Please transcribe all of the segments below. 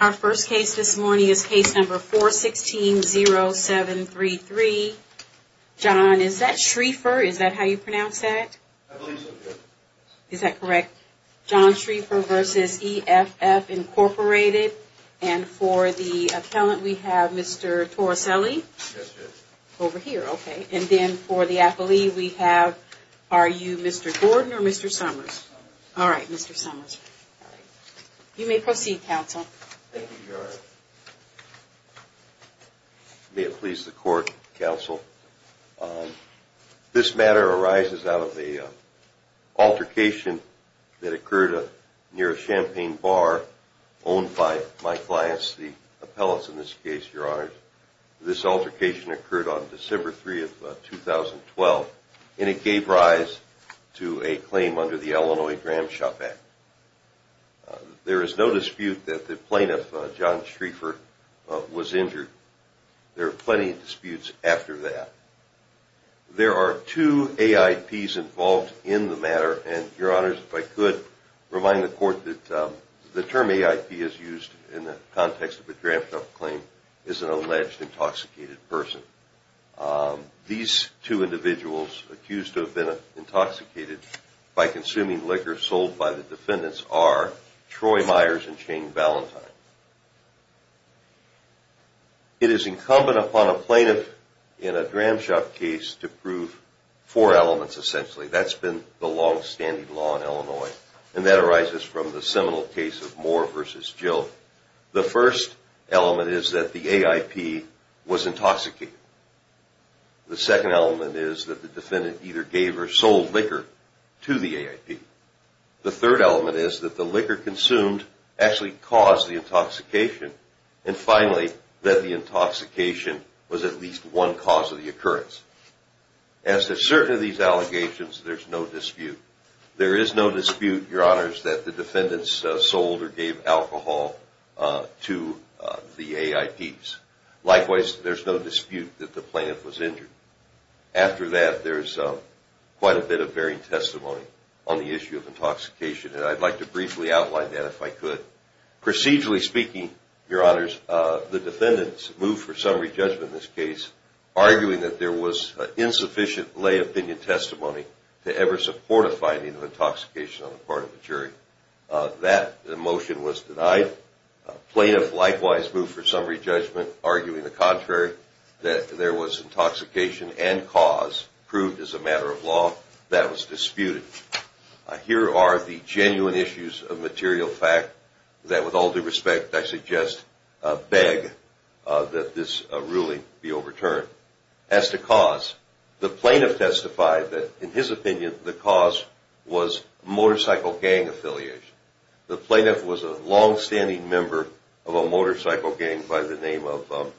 Our first case this morning is case number 416-0733. John, is that Schriefer? Is that how you pronounce that? I believe so, yes. Is that correct? John Schriefer v. EFF, Inc. And for the appellant we have Mr. Torricelli? Yes, yes. Over here, okay. And then for the athlete we have, are you Mr. Gordon or Mr. Summers? Summers. All right, Mr. Summers. You may proceed, counsel. Thank you, Your Honor. May it please the court, counsel. This matter arises out of an altercation that occurred near a champagne bar owned by my clients, the appellants in this case, Your Honor. This altercation occurred on December 3, 2012, and it gave rise to a claim under the Illinois Dram Shop Act. There is no dispute that the plaintiff, John Schriefer, was injured. There are plenty of disputes after that. There are two AIPs involved in the matter, and Your Honor, if I could remind the court that the term AIP is used in the context of a Dram Shop claim is an alleged intoxicated person. These two individuals accused of being intoxicated by consuming liquor sold by the defendants are Troy Myers and Shane Valentine. It is incumbent upon a plaintiff in a Dram Shop case to prove four elements, essentially. That's been the long-standing law in Illinois, and that arises from the seminal case of Moore v. Jill. The first element is that the AIP was intoxicated. The second element is that the defendant either gave or sold liquor to the AIP. The third element is that the liquor consumed actually caused the intoxication. And finally, that the intoxication was at least one cause of the occurrence. As to certain of these allegations, there's no dispute. There is no dispute, Your Honors, that the defendants sold or gave alcohol to the AIPs. Likewise, there's no dispute that the plaintiff was injured. After that, there's quite a bit of varying testimony on the issue of intoxication, and I'd like to briefly outline that if I could. Procedurally speaking, Your Honors, the defendants moved for summary judgment in this case, arguing that there was insufficient lay opinion testimony to ever support a finding of intoxication on the part of the jury. That motion was denied. Plaintiff likewise moved for summary judgment, arguing the contrary, that there was intoxication and cause proved as a matter of law. That was disputed. Here are the genuine issues of material fact that, with all due respect, I suggest beg that this ruling be overturned. As to cause, the plaintiff testified that, in his opinion, the cause was motorcycle gang affiliation. The plaintiff was a longstanding member of a motorcycle gang by the name of,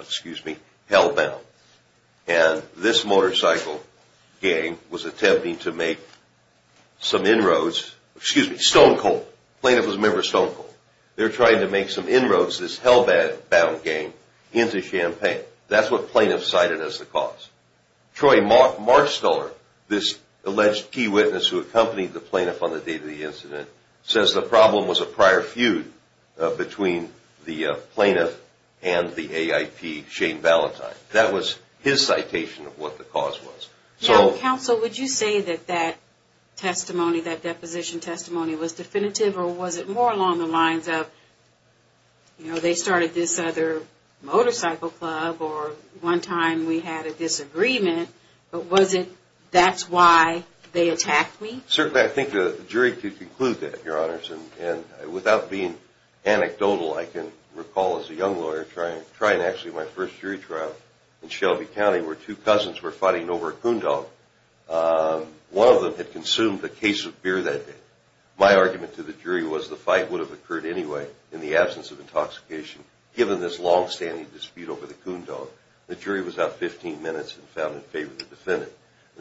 excuse me, Hellbound. And this motorcycle gang was attempting to make some inroads, excuse me, Stone Cold. Plaintiff was a member of Stone Cold. They were trying to make some inroads, this Hellbound gang, into Champaign. That's what plaintiff cited as the cause. Troy Marchstuller, this alleged key witness who accompanied the plaintiff on the day of the incident, says the problem was a prior feud between the plaintiff and the AIP, Shane Ballantyne. That was his citation of what the cause was. Now, counsel, would you say that that testimony, that deposition testimony, was definitive or was it more along the lines of, you know, they started this other motorcycle club or one time we had a disagreement, but was it, that's why they attacked me? Certainly, I think the jury could conclude that, Your Honors. And without being anecdotal, I can recall as a young lawyer trying actually my first jury trial in Shelby County where two cousins were fighting over a coon dog. One of them had consumed a case of beer that day. My argument to the jury was the fight would have occurred anyway in the absence of intoxication, given this longstanding dispute over the coon dog. The jury was up 15 minutes and found in favor of the defendant.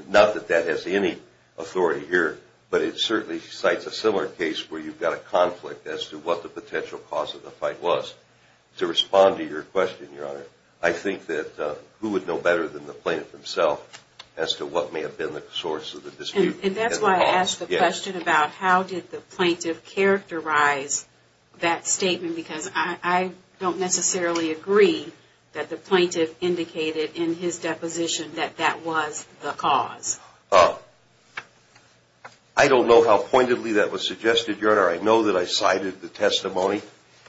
Not that that has any authority here, but it certainly cites a similar case where you've got a conflict as to what the potential cause of the fight was. To respond to your question, Your Honor, I think that who would know better than the plaintiff himself as to what may have been the source of the dispute? And that's why I asked the question about how did the plaintiff characterize that statement, because I don't necessarily agree that the plaintiff indicated in his deposition that that was the cause. I don't know how pointedly that was suggested, Your Honor. I know that I cited the testimony,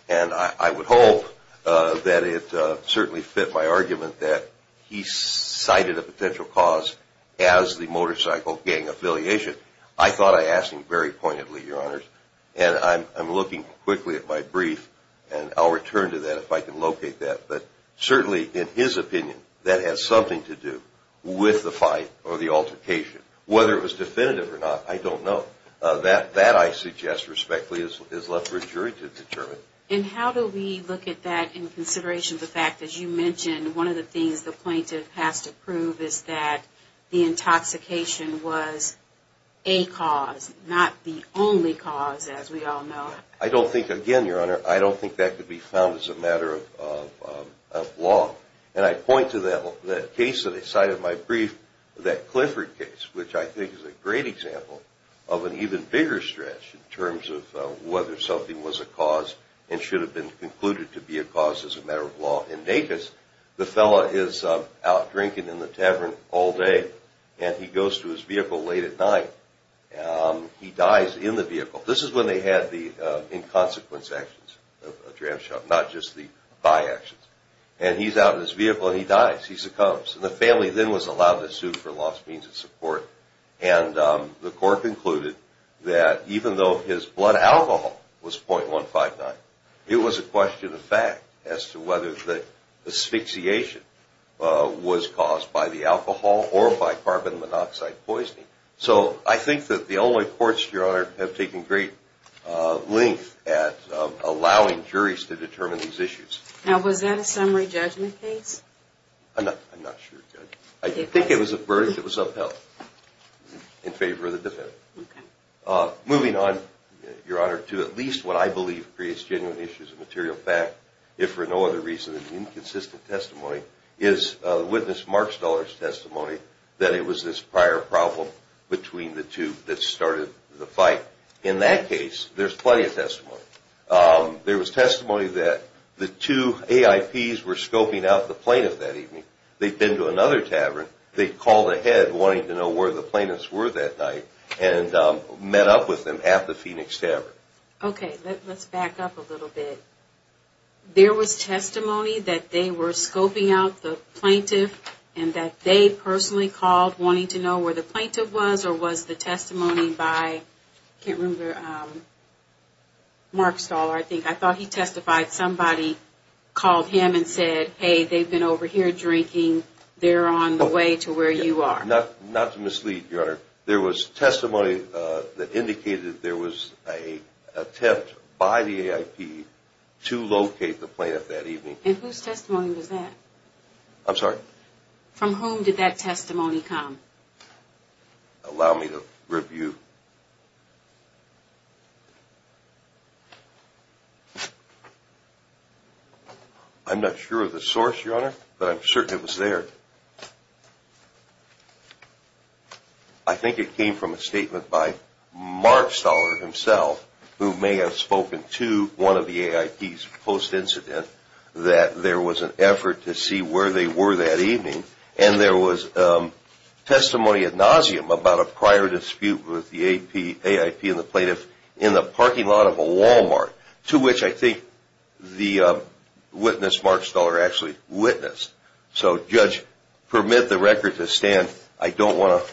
and I would hope that it certainly fit my argument that he cited a potential cause as the motorcycle gang affiliation. I thought I asked him very pointedly, Your Honor, and I'm looking quickly at my brief, and I'll return to that if I can locate that. But certainly in his opinion, that has something to do with the fight or the altercation. Whether it was definitive or not, I don't know. That, I suggest respectfully, is left for a jury to determine. And how do we look at that in consideration of the fact that you mentioned one of the things the plaintiff has to prove is that the intoxication was a cause, not the only cause, as we all know? I don't think, again, Your Honor, I don't think that could be found as a matter of law. And I point to that case that I cited in my brief, that Clifford case, which I think is a great example of an even bigger stretch in terms of whether something was a cause and should have been concluded to be a cause as a matter of law. The fella is out drinking in the tavern all day, and he goes to his vehicle late at night. He dies in the vehicle. This is when they had the inconsequence actions of a dram shop, not just the buy actions. And he's out in his vehicle, and he dies. He succumbs. And the family then was allowed to sue for lost means of support. And the court concluded that even though his blood alcohol was .159, it was a question of fact as to whether the asphyxiation was caused by the alcohol or by carbon monoxide poisoning. So I think that the only courts, Your Honor, have taken great length at allowing juries to determine these issues. Now, was that a summary judgment case? I'm not sure, Judge. I think it was a verdict that was upheld in favor of the defendant. Moving on, Your Honor, to at least what I believe creates genuine issues of material fact, if for no other reason than inconsistent testimony, is witness Mark Stuller's testimony that it was this prior problem between the two that started the fight. In that case, there's plenty of testimony. There was testimony that the two AIPs were scoping out the plaintiff that evening. They'd been to another tavern. They called ahead wanting to know where the plaintiffs were that night and met up with them at the Phoenix Tavern. Okay. Let's back up a little bit. There was testimony that they were scoping out the plaintiff and that they personally called wanting to know where the plaintiff was or was the testimony by, I can't remember, Mark Stuller, I think. I thought he testified. Somebody called him and said, hey, they've been over here drinking. They're on the way to where you are. Not to mislead, Your Honor. There was testimony that indicated there was an attempt by the AIP to locate the plaintiff that evening. And whose testimony was that? I'm sorry? From whom did that testimony come? Allow me to review. I'm not sure of the source, Your Honor, but I'm certain it was there. I think it came from a statement by Mark Stuller himself, who may have spoken to one of the AIPs post-incident, that there was an effort to see where they were that evening, and there was testimony ad nauseum about a prior dispute with the AIP and the plaintiff in the parking lot of a Walmart, to which I think the witness, Mark Stuller, actually witnessed. So, Judge, permit the record to stand. I don't want to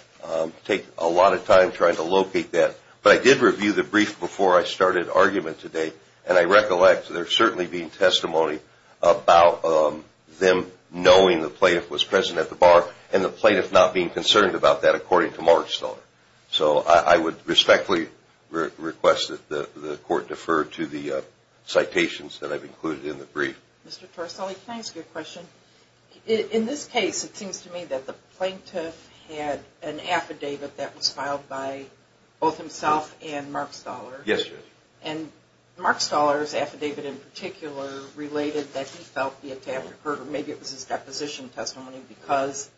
take a lot of time trying to locate that. But I did review the brief before I started argument today, and I recollect there certainly being testimony about them knowing the plaintiff was present at the bar and the plaintiff not being concerned about that, according to Mark Stuller. So I would respectfully request that the Court defer to the citations that I've included in the brief. Mr. Torsali, can I ask you a question? In this case, it seems to me that the plaintiff had an affidavit that was filed by both himself and Mark Stuller. Yes, Judge. And Mark Stuller's affidavit in particular related that he felt the attack occurred, or maybe it was his deposition testimony, because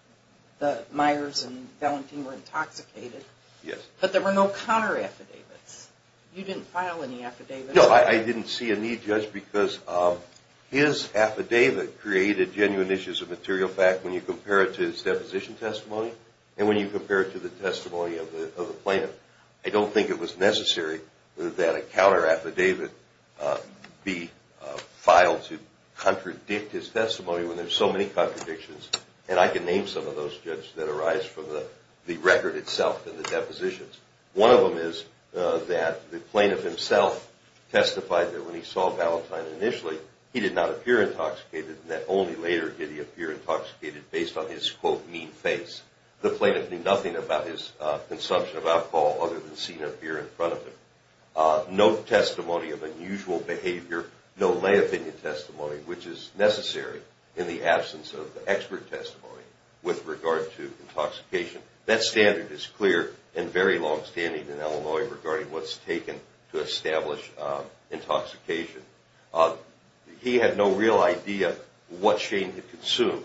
the Myers and Valentin were intoxicated. Yes. But there were no counter-affidavits. You didn't file any affidavits. No, I didn't see a need, Judge, because his affidavit created genuine issues of material fact when you compare it to his deposition testimony and when you compare it to the testimony of the plaintiff. I don't think it was necessary that a counter-affidavit be filed to contradict his testimony when there's so many contradictions. And I can name some of those, Judge, that arise from the record itself and the depositions. One of them is that the plaintiff himself testified that when he saw Valentin initially, he did not appear intoxicated and that only later did he appear intoxicated based on his, quote, mean face. The plaintiff knew nothing about his consumption of alcohol other than seeing a beer in front of him. No testimony of unusual behavior, no lay opinion testimony, which is necessary in the absence of expert testimony with regard to intoxication. That standard is clear and very longstanding in Illinois regarding what's taken to establish intoxication. He had no real idea what Shane had consumed.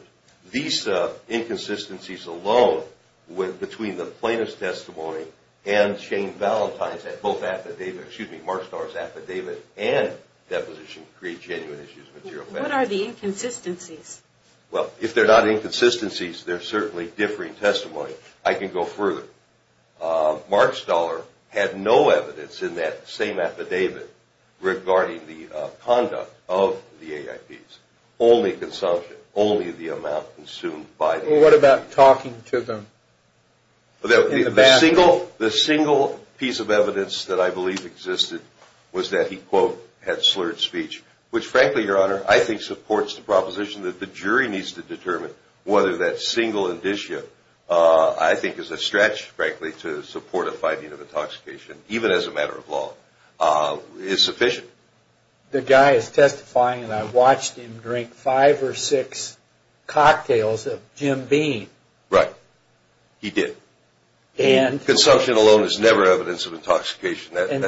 These inconsistencies alone between the plaintiff's testimony and Shane Valentin's affidavit, excuse me, Markstaller's affidavit and deposition create genuine issues of material fact. What are the inconsistencies? Well, if they're not inconsistencies, they're certainly differing testimony. I can go further. Markstaller had no evidence in that same affidavit regarding the conduct of the AIPs. Only consumption, only the amount consumed by the AIPs. Well, what about talking to them in the bathroom? The single piece of evidence that I believe existed was that he, quote, had slurred speech, which frankly, Your Honor, I think supports the proposition that the jury needs to determine whether that single indicia I think is a stretch, frankly, to support a finding of intoxication, even as a matter of law, is sufficient. The guy is testifying and I watched him drink five or six cocktails of Jim Beam. Right. He did. Consumption alone is never evidence of intoxication. And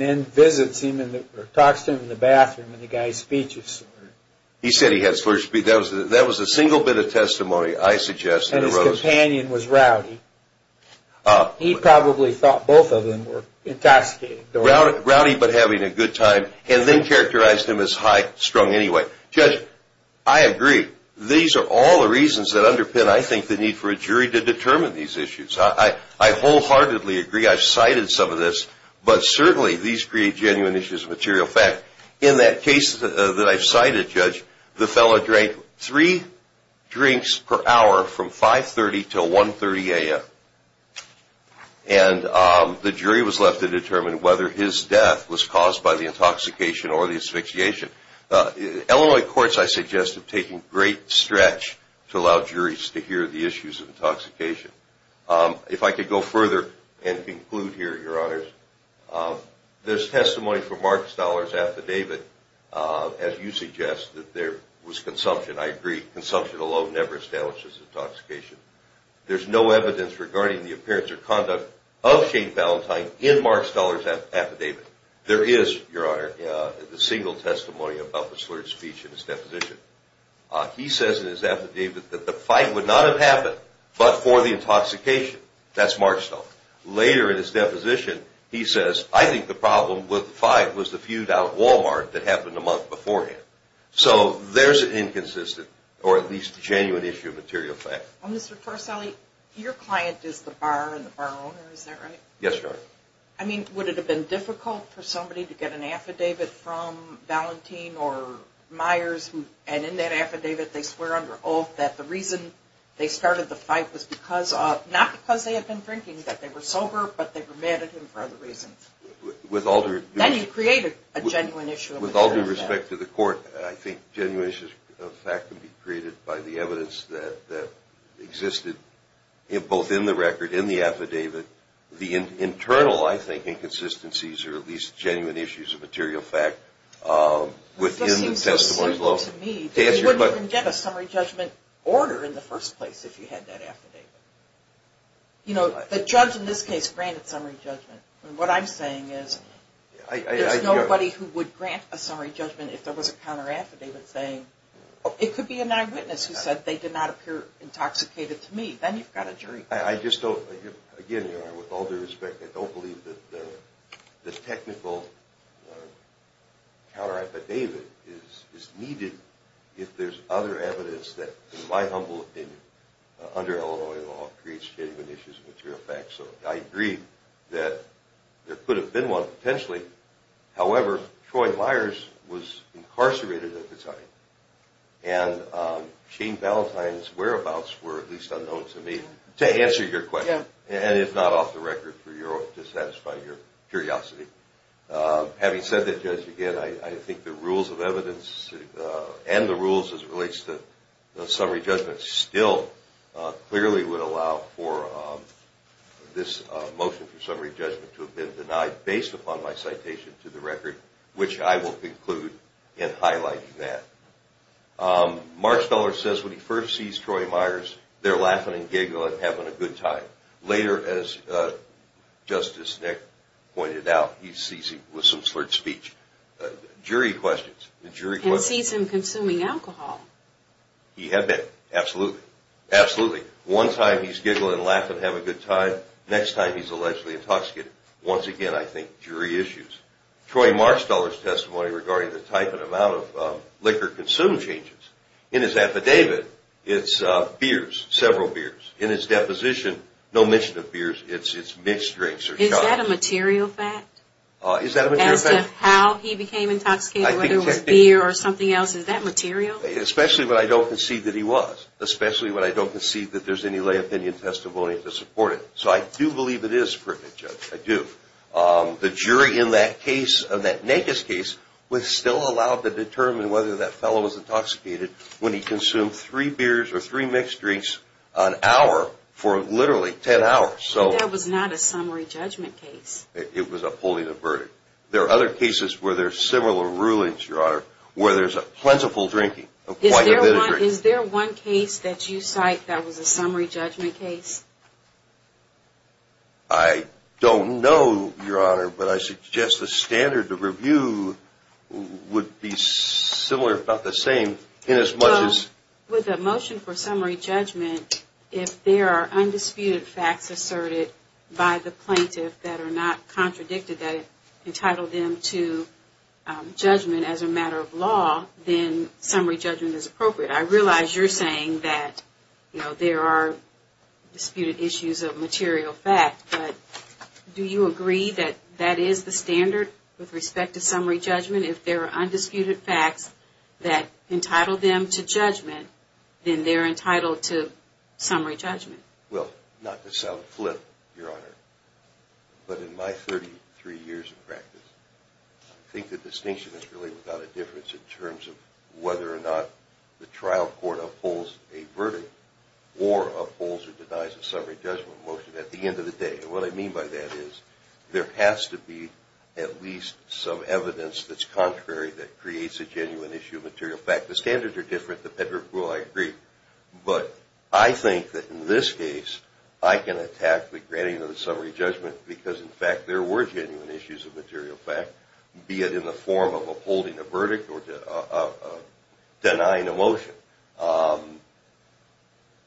then visits him or talks to him in the bathroom and the guy's speech is slurred. He said he had slurred speech. That was the single bit of testimony I suggest that arose. And his companion was rowdy. He probably thought both of them were intoxicated. Rowdy, but having a good time, and then characterized him as high-strung anyway. Judge, I agree. These are all the reasons that underpin, I think, the need for a jury to determine these issues. I wholeheartedly agree. I've cited some of this, but certainly these create genuine issues of material fact. In that case that I've cited, Judge, the fellow drank three drinks per hour from 5.30 to 1.30 a.m. And the jury was left to determine whether his death was caused by the intoxication or the asphyxiation. Illinois courts, I suggest, have taken great stretch to allow juries to hear the issues of intoxication. If I could go further and conclude here, Your Honors, there's testimony from Mark Stoller's affidavit, as you suggest, that there was consumption. I agree. Consumption alone never establishes intoxication. There's no evidence regarding the appearance or conduct of Shane Valentine in Mark Stoller's affidavit. There is, Your Honor, the single testimony about the slurred speech in his deposition. He says in his affidavit that the fight would not have happened but for the intoxication. That's Mark Stoller. Later in his deposition, he says, I think the problem with the fight was the feud out at Walmart that happened a month beforehand. So there's an inconsistent, or at least genuine issue of material fact. Well, Mr. Torsali, your client is the bar and the bar owner, is that right? Yes, Your Honor. I mean, would it have been difficult for somebody to get an affidavit from Valentine or Myers, and in that affidavit they swear under oath that the reason they started the fight was because of, not because they had been drinking, that they were sober, but they were mad at him for other reasons. Then you create a genuine issue of material fact. With all due respect to the court, I think genuine issues of fact can be created by the evidence that existed both in the record, in the affidavit, the internal, I think, inconsistencies or at least genuine issues of material fact within the testimony. It seems so simple to me that you wouldn't get a summary judgment order in the first place if you had that affidavit. You know, the judge in this case granted summary judgment. What I'm saying is there's nobody who would grant a summary judgment if there was a counter affidavit saying, it could be an eyewitness who said they did not appear intoxicated to me. Then you've got a jury. I just don't, again, Your Honor, with all due respect, I don't believe that the technical counter affidavit is needed if there's other evidence that, in my humble opinion, under Illinois law creates genuine issues of material fact. So I agree that there could have been one potentially. However, Troy Myers was incarcerated at the time, and Shane Ballantyne's whereabouts were at least unknown to me to answer your question. And it's not off the record to satisfy your curiosity. Having said that, Judge, again, I think the rules of evidence and the rules as it relates to the summary judgment still clearly would allow for this motion for summary judgment to have been denied based upon my citation to the record, which I will conclude in highlighting that. Mark Feller says when he first sees Troy Myers, they're laughing and giggling and having a good time. Later, as Justice Nick pointed out, he sees him with some slurred speech. Jury questions. He sees him consuming alcohol. He had been. Absolutely. Absolutely. One time he's giggling and laughing, having a good time. Next time he's allegedly intoxicated. Once again, I think jury issues. Troy Mark Feller's testimony regarding the type and amount of liquor consumed changes. In his affidavit, it's beers, several beers. In his deposition, no mention of beers. It's mixed drinks or shots. Is that a material fact? Is that a material fact? As to how he became intoxicated, whether it was beer or something else, is that material? Especially when I don't concede that he was. Especially when I don't concede that there's any lay opinion testimony to support it. So I do believe it is perfect, Judge. I do. The jury in that case, that Nakes case, was still allowed to determine whether that fellow was intoxicated when he consumed three beers or three mixed drinks an hour for literally ten hours. That was not a summary judgment case. It was a pulling a verdict. There are other cases where there are similar rulings, Your Honor, where there's a plentiful drinking. Is there one case that you cite that was a summary judgment case? I don't know, Your Honor, but I suggest the standard of review would be similar, if not the same, in as much as. With a motion for summary judgment, if there are undisputed facts asserted by the plaintiff that are not contradicted, that it entitled them to judgment as a matter of law, then summary judgment is appropriate. I realize you're saying that, you know, there are disputed issues of material fact, but do you agree that that is the standard with respect to summary judgment? If there are undisputed facts that entitle them to judgment, then they're entitled to summary judgment. Well, not to sound flip, Your Honor, but in my 33 years of practice, I think the distinction is really without a difference in terms of whether or not the trial court upholds a verdict or upholds or denies a summary judgment motion at the end of the day. And what I mean by that is there has to be at least some evidence that's contrary that creates a genuine issue of material fact. The standards are different, the pedigree, I agree, but I think that in this case, I can attack the granting of the summary judgment because, in fact, there were genuine issues of material fact, be it in the form of upholding a verdict or denying a motion.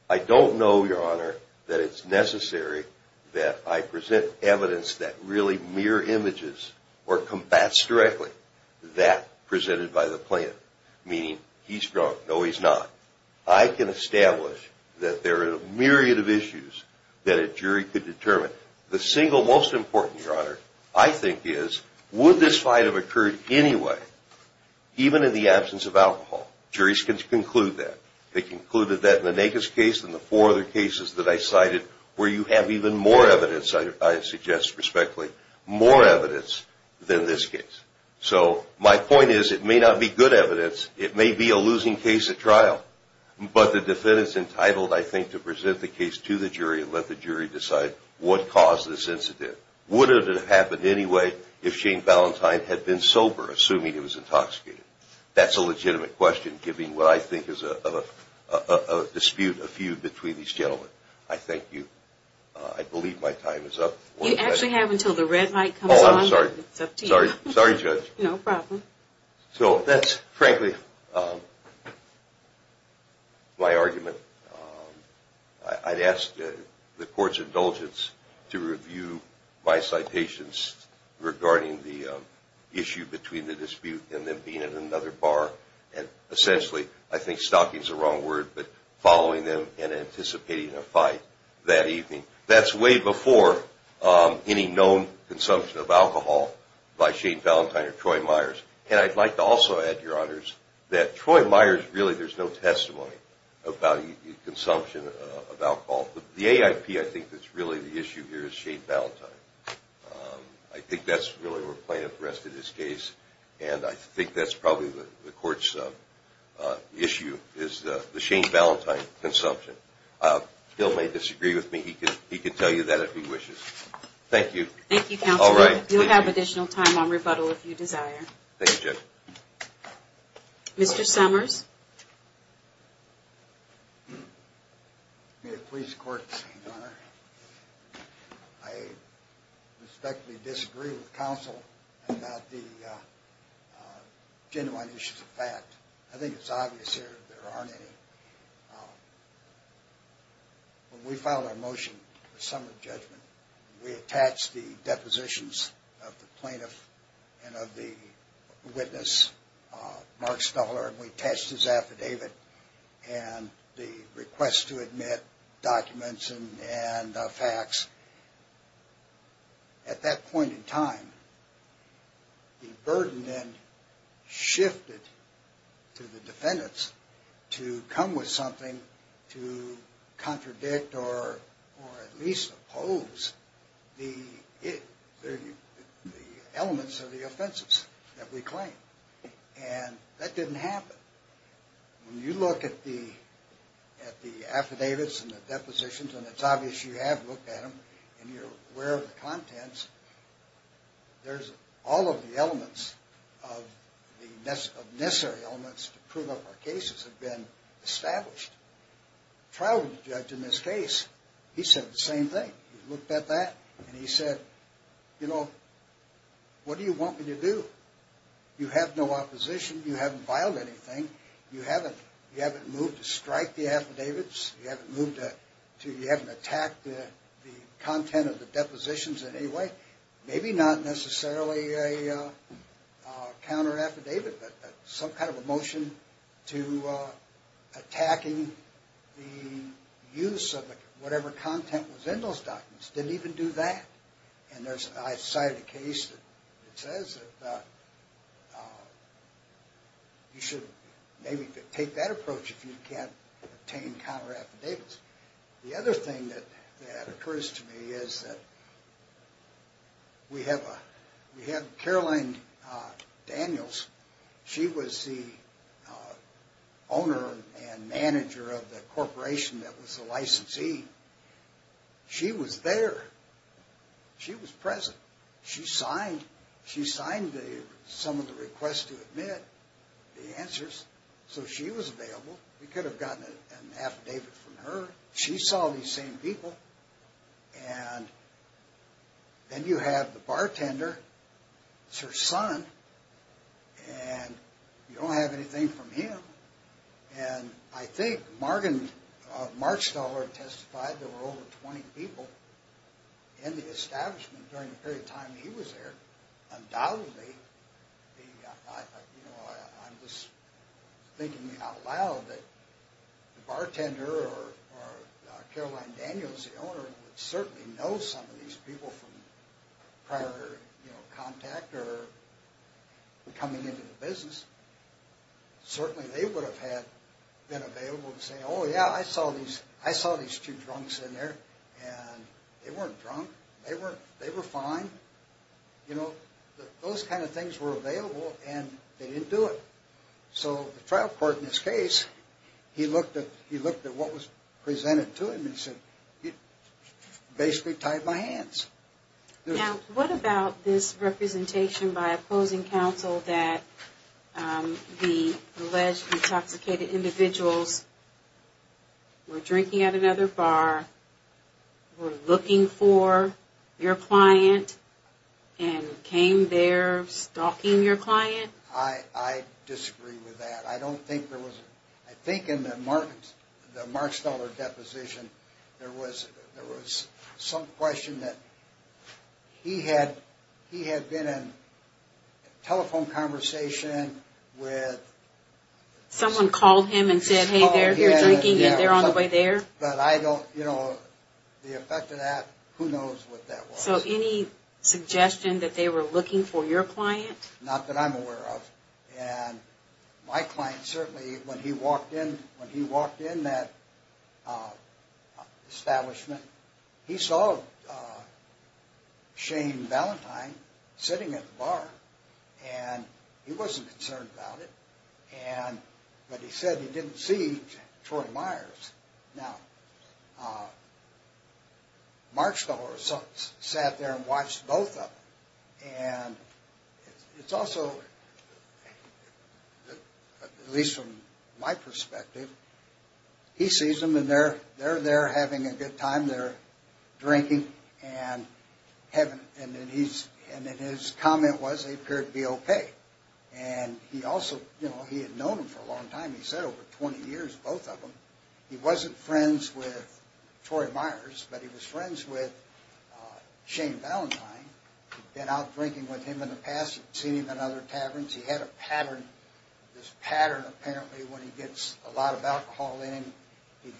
I don't know, Your Honor, that it's necessary that I present evidence that really mirror images or combats directly that presented by the plaintiff, meaning he's drunk, no, he's not. I can establish that there are a myriad of issues that a jury could determine. The single most important, Your Honor, I think is would this fight have occurred anyway, even in the absence of alcohol. Juries can conclude that. They concluded that in the Nagus case and the four other cases that I cited where you have even more evidence, I suggest respectfully, more evidence than this case. So my point is it may not be good evidence, it may be a losing case at trial, but the defendant's entitled, I think, to present the case to the jury and let the jury decide what caused this incident. Would it have happened anyway if Shane Valentine had been sober, assuming he was intoxicated? That's a legitimate question, giving what I think is a dispute, a feud, between these gentlemen. I thank you. I believe my time is up. You actually have until the red light comes on. Oh, I'm sorry. It's up to you. Sorry, Judge. No problem. So that's frankly my argument. I'd ask the Court's indulgence to review my citations regarding the issue between the dispute and them being at another bar and essentially, I think stalking is the wrong word, but following them and anticipating a fight that evening. That's way before any known consumption of alcohol by Shane Valentine or Troy Myers. And I'd like to also add, Your Honors, that Troy Myers, really, there's no testimony about consumption of alcohol. The AIP, I think, that's really the issue here is Shane Valentine. I think that's really where we're playing with the rest of this case, and I think that's probably the Court's issue is the Shane Valentine consumption. Bill may disagree with me. He can tell you that if he wishes. Thank you. Thank you, Counselor. All right. You'll have additional time on rebuttal if you desire. Thank you, Judge. Mr. Summers. May it please the Court, Your Honor. I respectfully disagree with Counsel about the genuine issues of fact. I think it's obvious here that there aren't any. When we filed our motion, the summary judgment, we attached the depositions of the plaintiff and of the witness, Mark Stuhler, and we attached his affidavit and the request to admit documents and facts. At that point in time, the burden then shifted to the defendants to come with something to contradict or at least oppose the elements of the offenses that we claim, and that didn't happen. When you look at the affidavits and the depositions, and it's obvious you have looked at them and you're aware of the contents, there's all of the elements of necessary elements to prove our cases have been established. The trial judge in this case, he said the same thing. He looked at that and he said, you know, what do you want me to do? You have no opposition. You haven't filed anything. You haven't moved to strike the affidavits. You haven't attacked the content of the depositions in any way. Maybe not necessarily a counter affidavit, but some kind of a motion to attacking the use of whatever content was in those documents. Didn't even do that. And I cited a case that says that you should maybe take that approach if you can't obtain counter affidavits. The other thing that occurs to me is that we have Caroline Daniels. She was the owner and manager of the corporation that was the licensee. She was there. She was present. So she was available. We could have gotten an affidavit from her. She saw these same people. And then you have the bartender, it's her son, and you don't have anything from him. And I think Mark Stoller testified there were over 20 people in the establishment during the period of time that he was there. Undoubtedly, I'm just thinking out loud that the bartender or Caroline Daniels, the owner, would certainly know some of these people from prior contact or coming into the business. Certainly they would have been available to say, oh, yeah, I saw these two drunks in there. And they weren't drunk. They were fine. Those kind of things were available, and they didn't do it. So the trial court in this case, he looked at what was presented to him and said, basically tied my hands. Now, what about this representation by opposing counsel that the alleged intoxicated individuals were drinking at another bar, were looking for your client, and came there stalking your client? I disagree with that. I don't think there was. I think in the Mark Stoller deposition there was some question that he had been in telephone conversation with. Someone called him and said, hey, they're here drinking and they're on the way there. But I don't, you know, the effect of that, who knows what that was. So any suggestion that they were looking for your client? Not that I'm aware of. And my client certainly, when he walked in that establishment, he saw Shane Valentine sitting at the bar, and he wasn't concerned about it. But he said he didn't see Troy Myers. Now, Mark Stoller sat there and watched both of them. And it's also, at least from my perspective, he sees them, and they're there having a good time. They're drinking, and then his comment was they appeared to be okay. And he also, you know, he had known them for a long time. He said over 20 years, both of them. He wasn't friends with Troy Myers, but he was friends with Shane Valentine. He'd been out drinking with him in the past. He'd seen him in other taverns. He had a pattern, this pattern apparently when he gets a lot of alcohol in him, he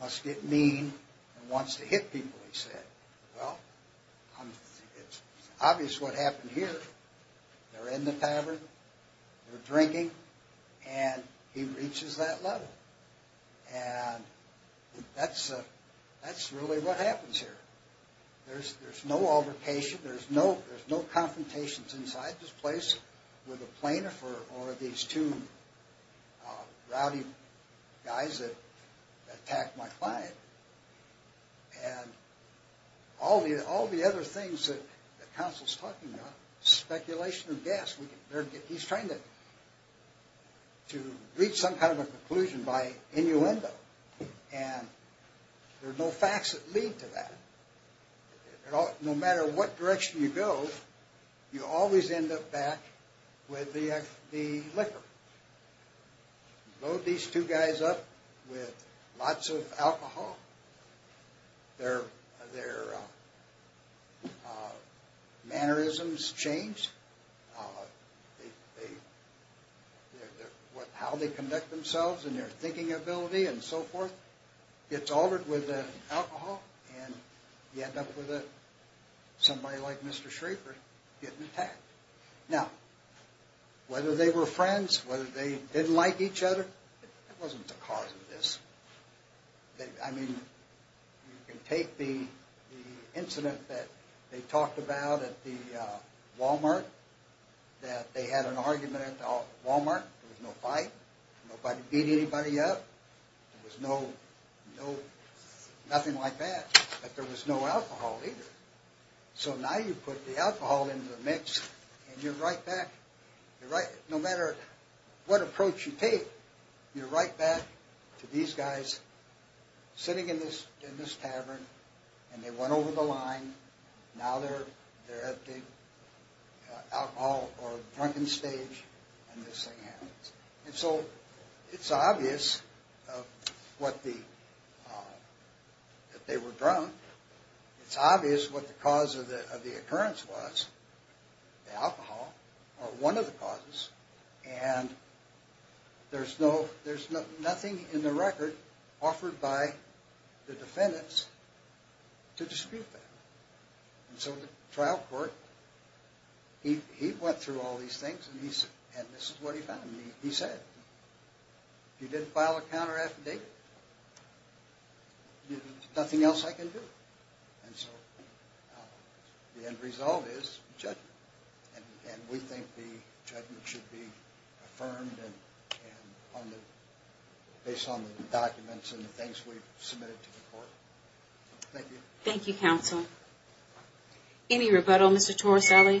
must get mean and wants to hit people, he said. Well, it's obvious what happened here. They're in the tavern, they're drinking, and he reaches that level. And that's really what happens here. There's no altercation. There's no confrontations inside this place with a plaintiff or these two rowdy guys that attacked my client. And all the other things that counsel's talking about, speculation and guess. He's trying to reach some kind of a conclusion by innuendo, and there are no facts that lead to that. No matter what direction you go, you always end up back with the liquor. Load these two guys up with lots of alcohol. Their mannerisms change. How they conduct themselves and their thinking ability and so forth gets altered with the alcohol, and you end up with somebody like Mr. Schrafer getting attacked. Now, whether they were friends, whether they didn't like each other, it wasn't the cause of this. I mean, you can take the incident that they talked about at the Wal-Mart, that they had an argument at the Wal-Mart. There was no fight. Nobody beat anybody up. There was nothing like that. But there was no alcohol either. So now you put the alcohol into the mix, and you're right back. No matter what approach you take, you're right back to these guys sitting in this tavern, and they went over the line. Now they're at the alcohol or drunken stage, and this thing happens. And so it's obvious that they were drunk. It's obvious what the cause of the occurrence was. The alcohol or one of the causes. And there's nothing in the record offered by the defendants to dispute that. And so the trial court, he went through all these things, and this is what he found. And he said, if you didn't file a counter-affidavit, there's nothing else I can do. And so the end result is judgment. And we think the judgment should be affirmed based on the documents and the things we've submitted to the court. Thank you. Thank you, counsel. Any rebuttal, Mr. Torricelli? I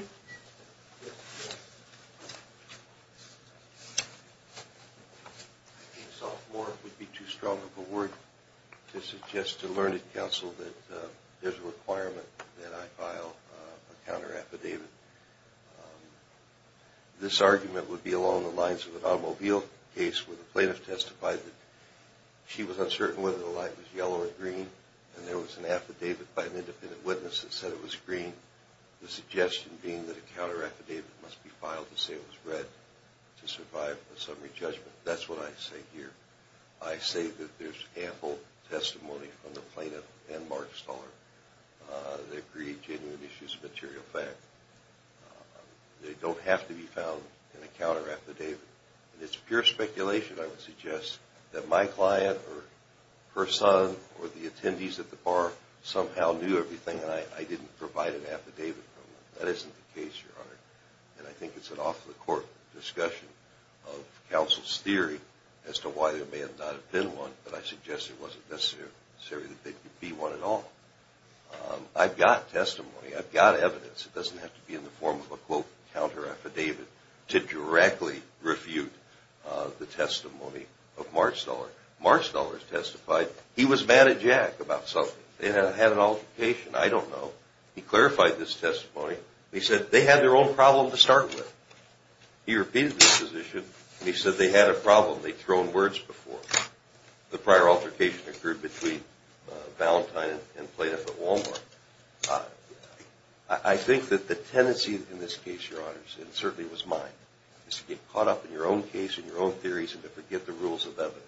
think sophomore would be too strong of a word to suggest to learned counsel that there's a requirement that I file a counter-affidavit. This argument would be along the lines of an automobile case where the plaintiff testified that she was uncertain whether the light was yellow or green, and there was an affidavit by an independent witness that said it was green, the suggestion being that a counter-affidavit must be filed to say it was red to survive a summary judgment. That's what I say here. I say that there's ample testimony from the plaintiff and Mark Stoller that agreed genuine issues of material fact. They don't have to be found in a counter-affidavit. It's pure speculation, I would suggest, that my client or her son or the attendees at the bar somehow knew everything and I didn't provide an affidavit from them. That isn't the case, Your Honor. And I think it's an off-the-court discussion of counsel's theory as to why there may not have been one, but I suggest it wasn't necessary that there could be one at all. I've got testimony. I've got evidence. It doesn't have to be in the form of a, quote, counter-affidavit to directly refute the testimony of Mark Stoller. Mark Stoller testified he was mad at Jack about something. They had an altercation. I don't know. He clarified this testimony. He said they had their own problem to start with. He repeated this position, and he said they had a problem. They'd thrown words before. The prior altercation occurred between Valentine and the plaintiff at Walmart. I think that the tendency in this case, Your Honors, and it certainly was mine, is to get caught up in your own case and your own theories and to forget the rules of evidence,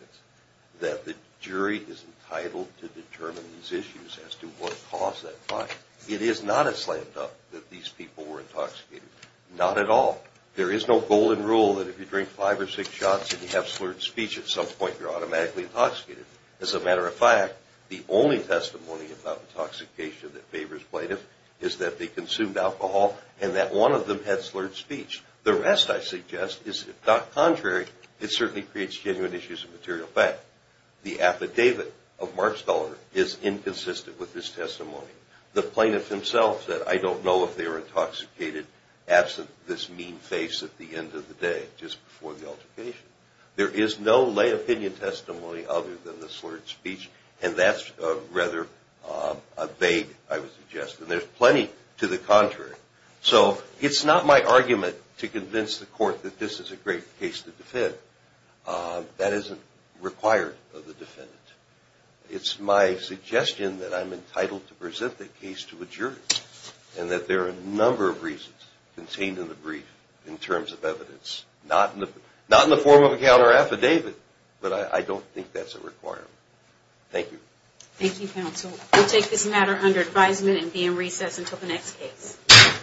that the jury is entitled to determine these issues as to what caused that fight. It is not a slam dunk that these people were intoxicated. Not at all. There is no golden rule that if you drink five or six shots and you have slurred speech at some point you're automatically intoxicated. As a matter of fact, the only testimony about intoxication that favors plaintiff is that they consumed alcohol and that one of them had slurred speech. The rest, I suggest, is if not contrary, it certainly creates genuine issues of material fact. The affidavit of Mark Stoller is inconsistent with this testimony. The plaintiff himself said, I don't know if they were intoxicated absent this mean face at the end of the day, just before the altercation. There is no lay opinion testimony other than the slurred speech, and that's rather vague, I would suggest, and there's plenty to the contrary. So it's not my argument to convince the court that this is a great case to defend. That isn't required of the defendant. It's my suggestion that I'm entitled to present the case to a jury and that there are a number of reasons contained in the brief in terms of evidence, not in the form of a counter affidavit, but I don't think that's a requirement. Thank you. Thank you, counsel. We'll take this matter under advisement and be in recess until the next case.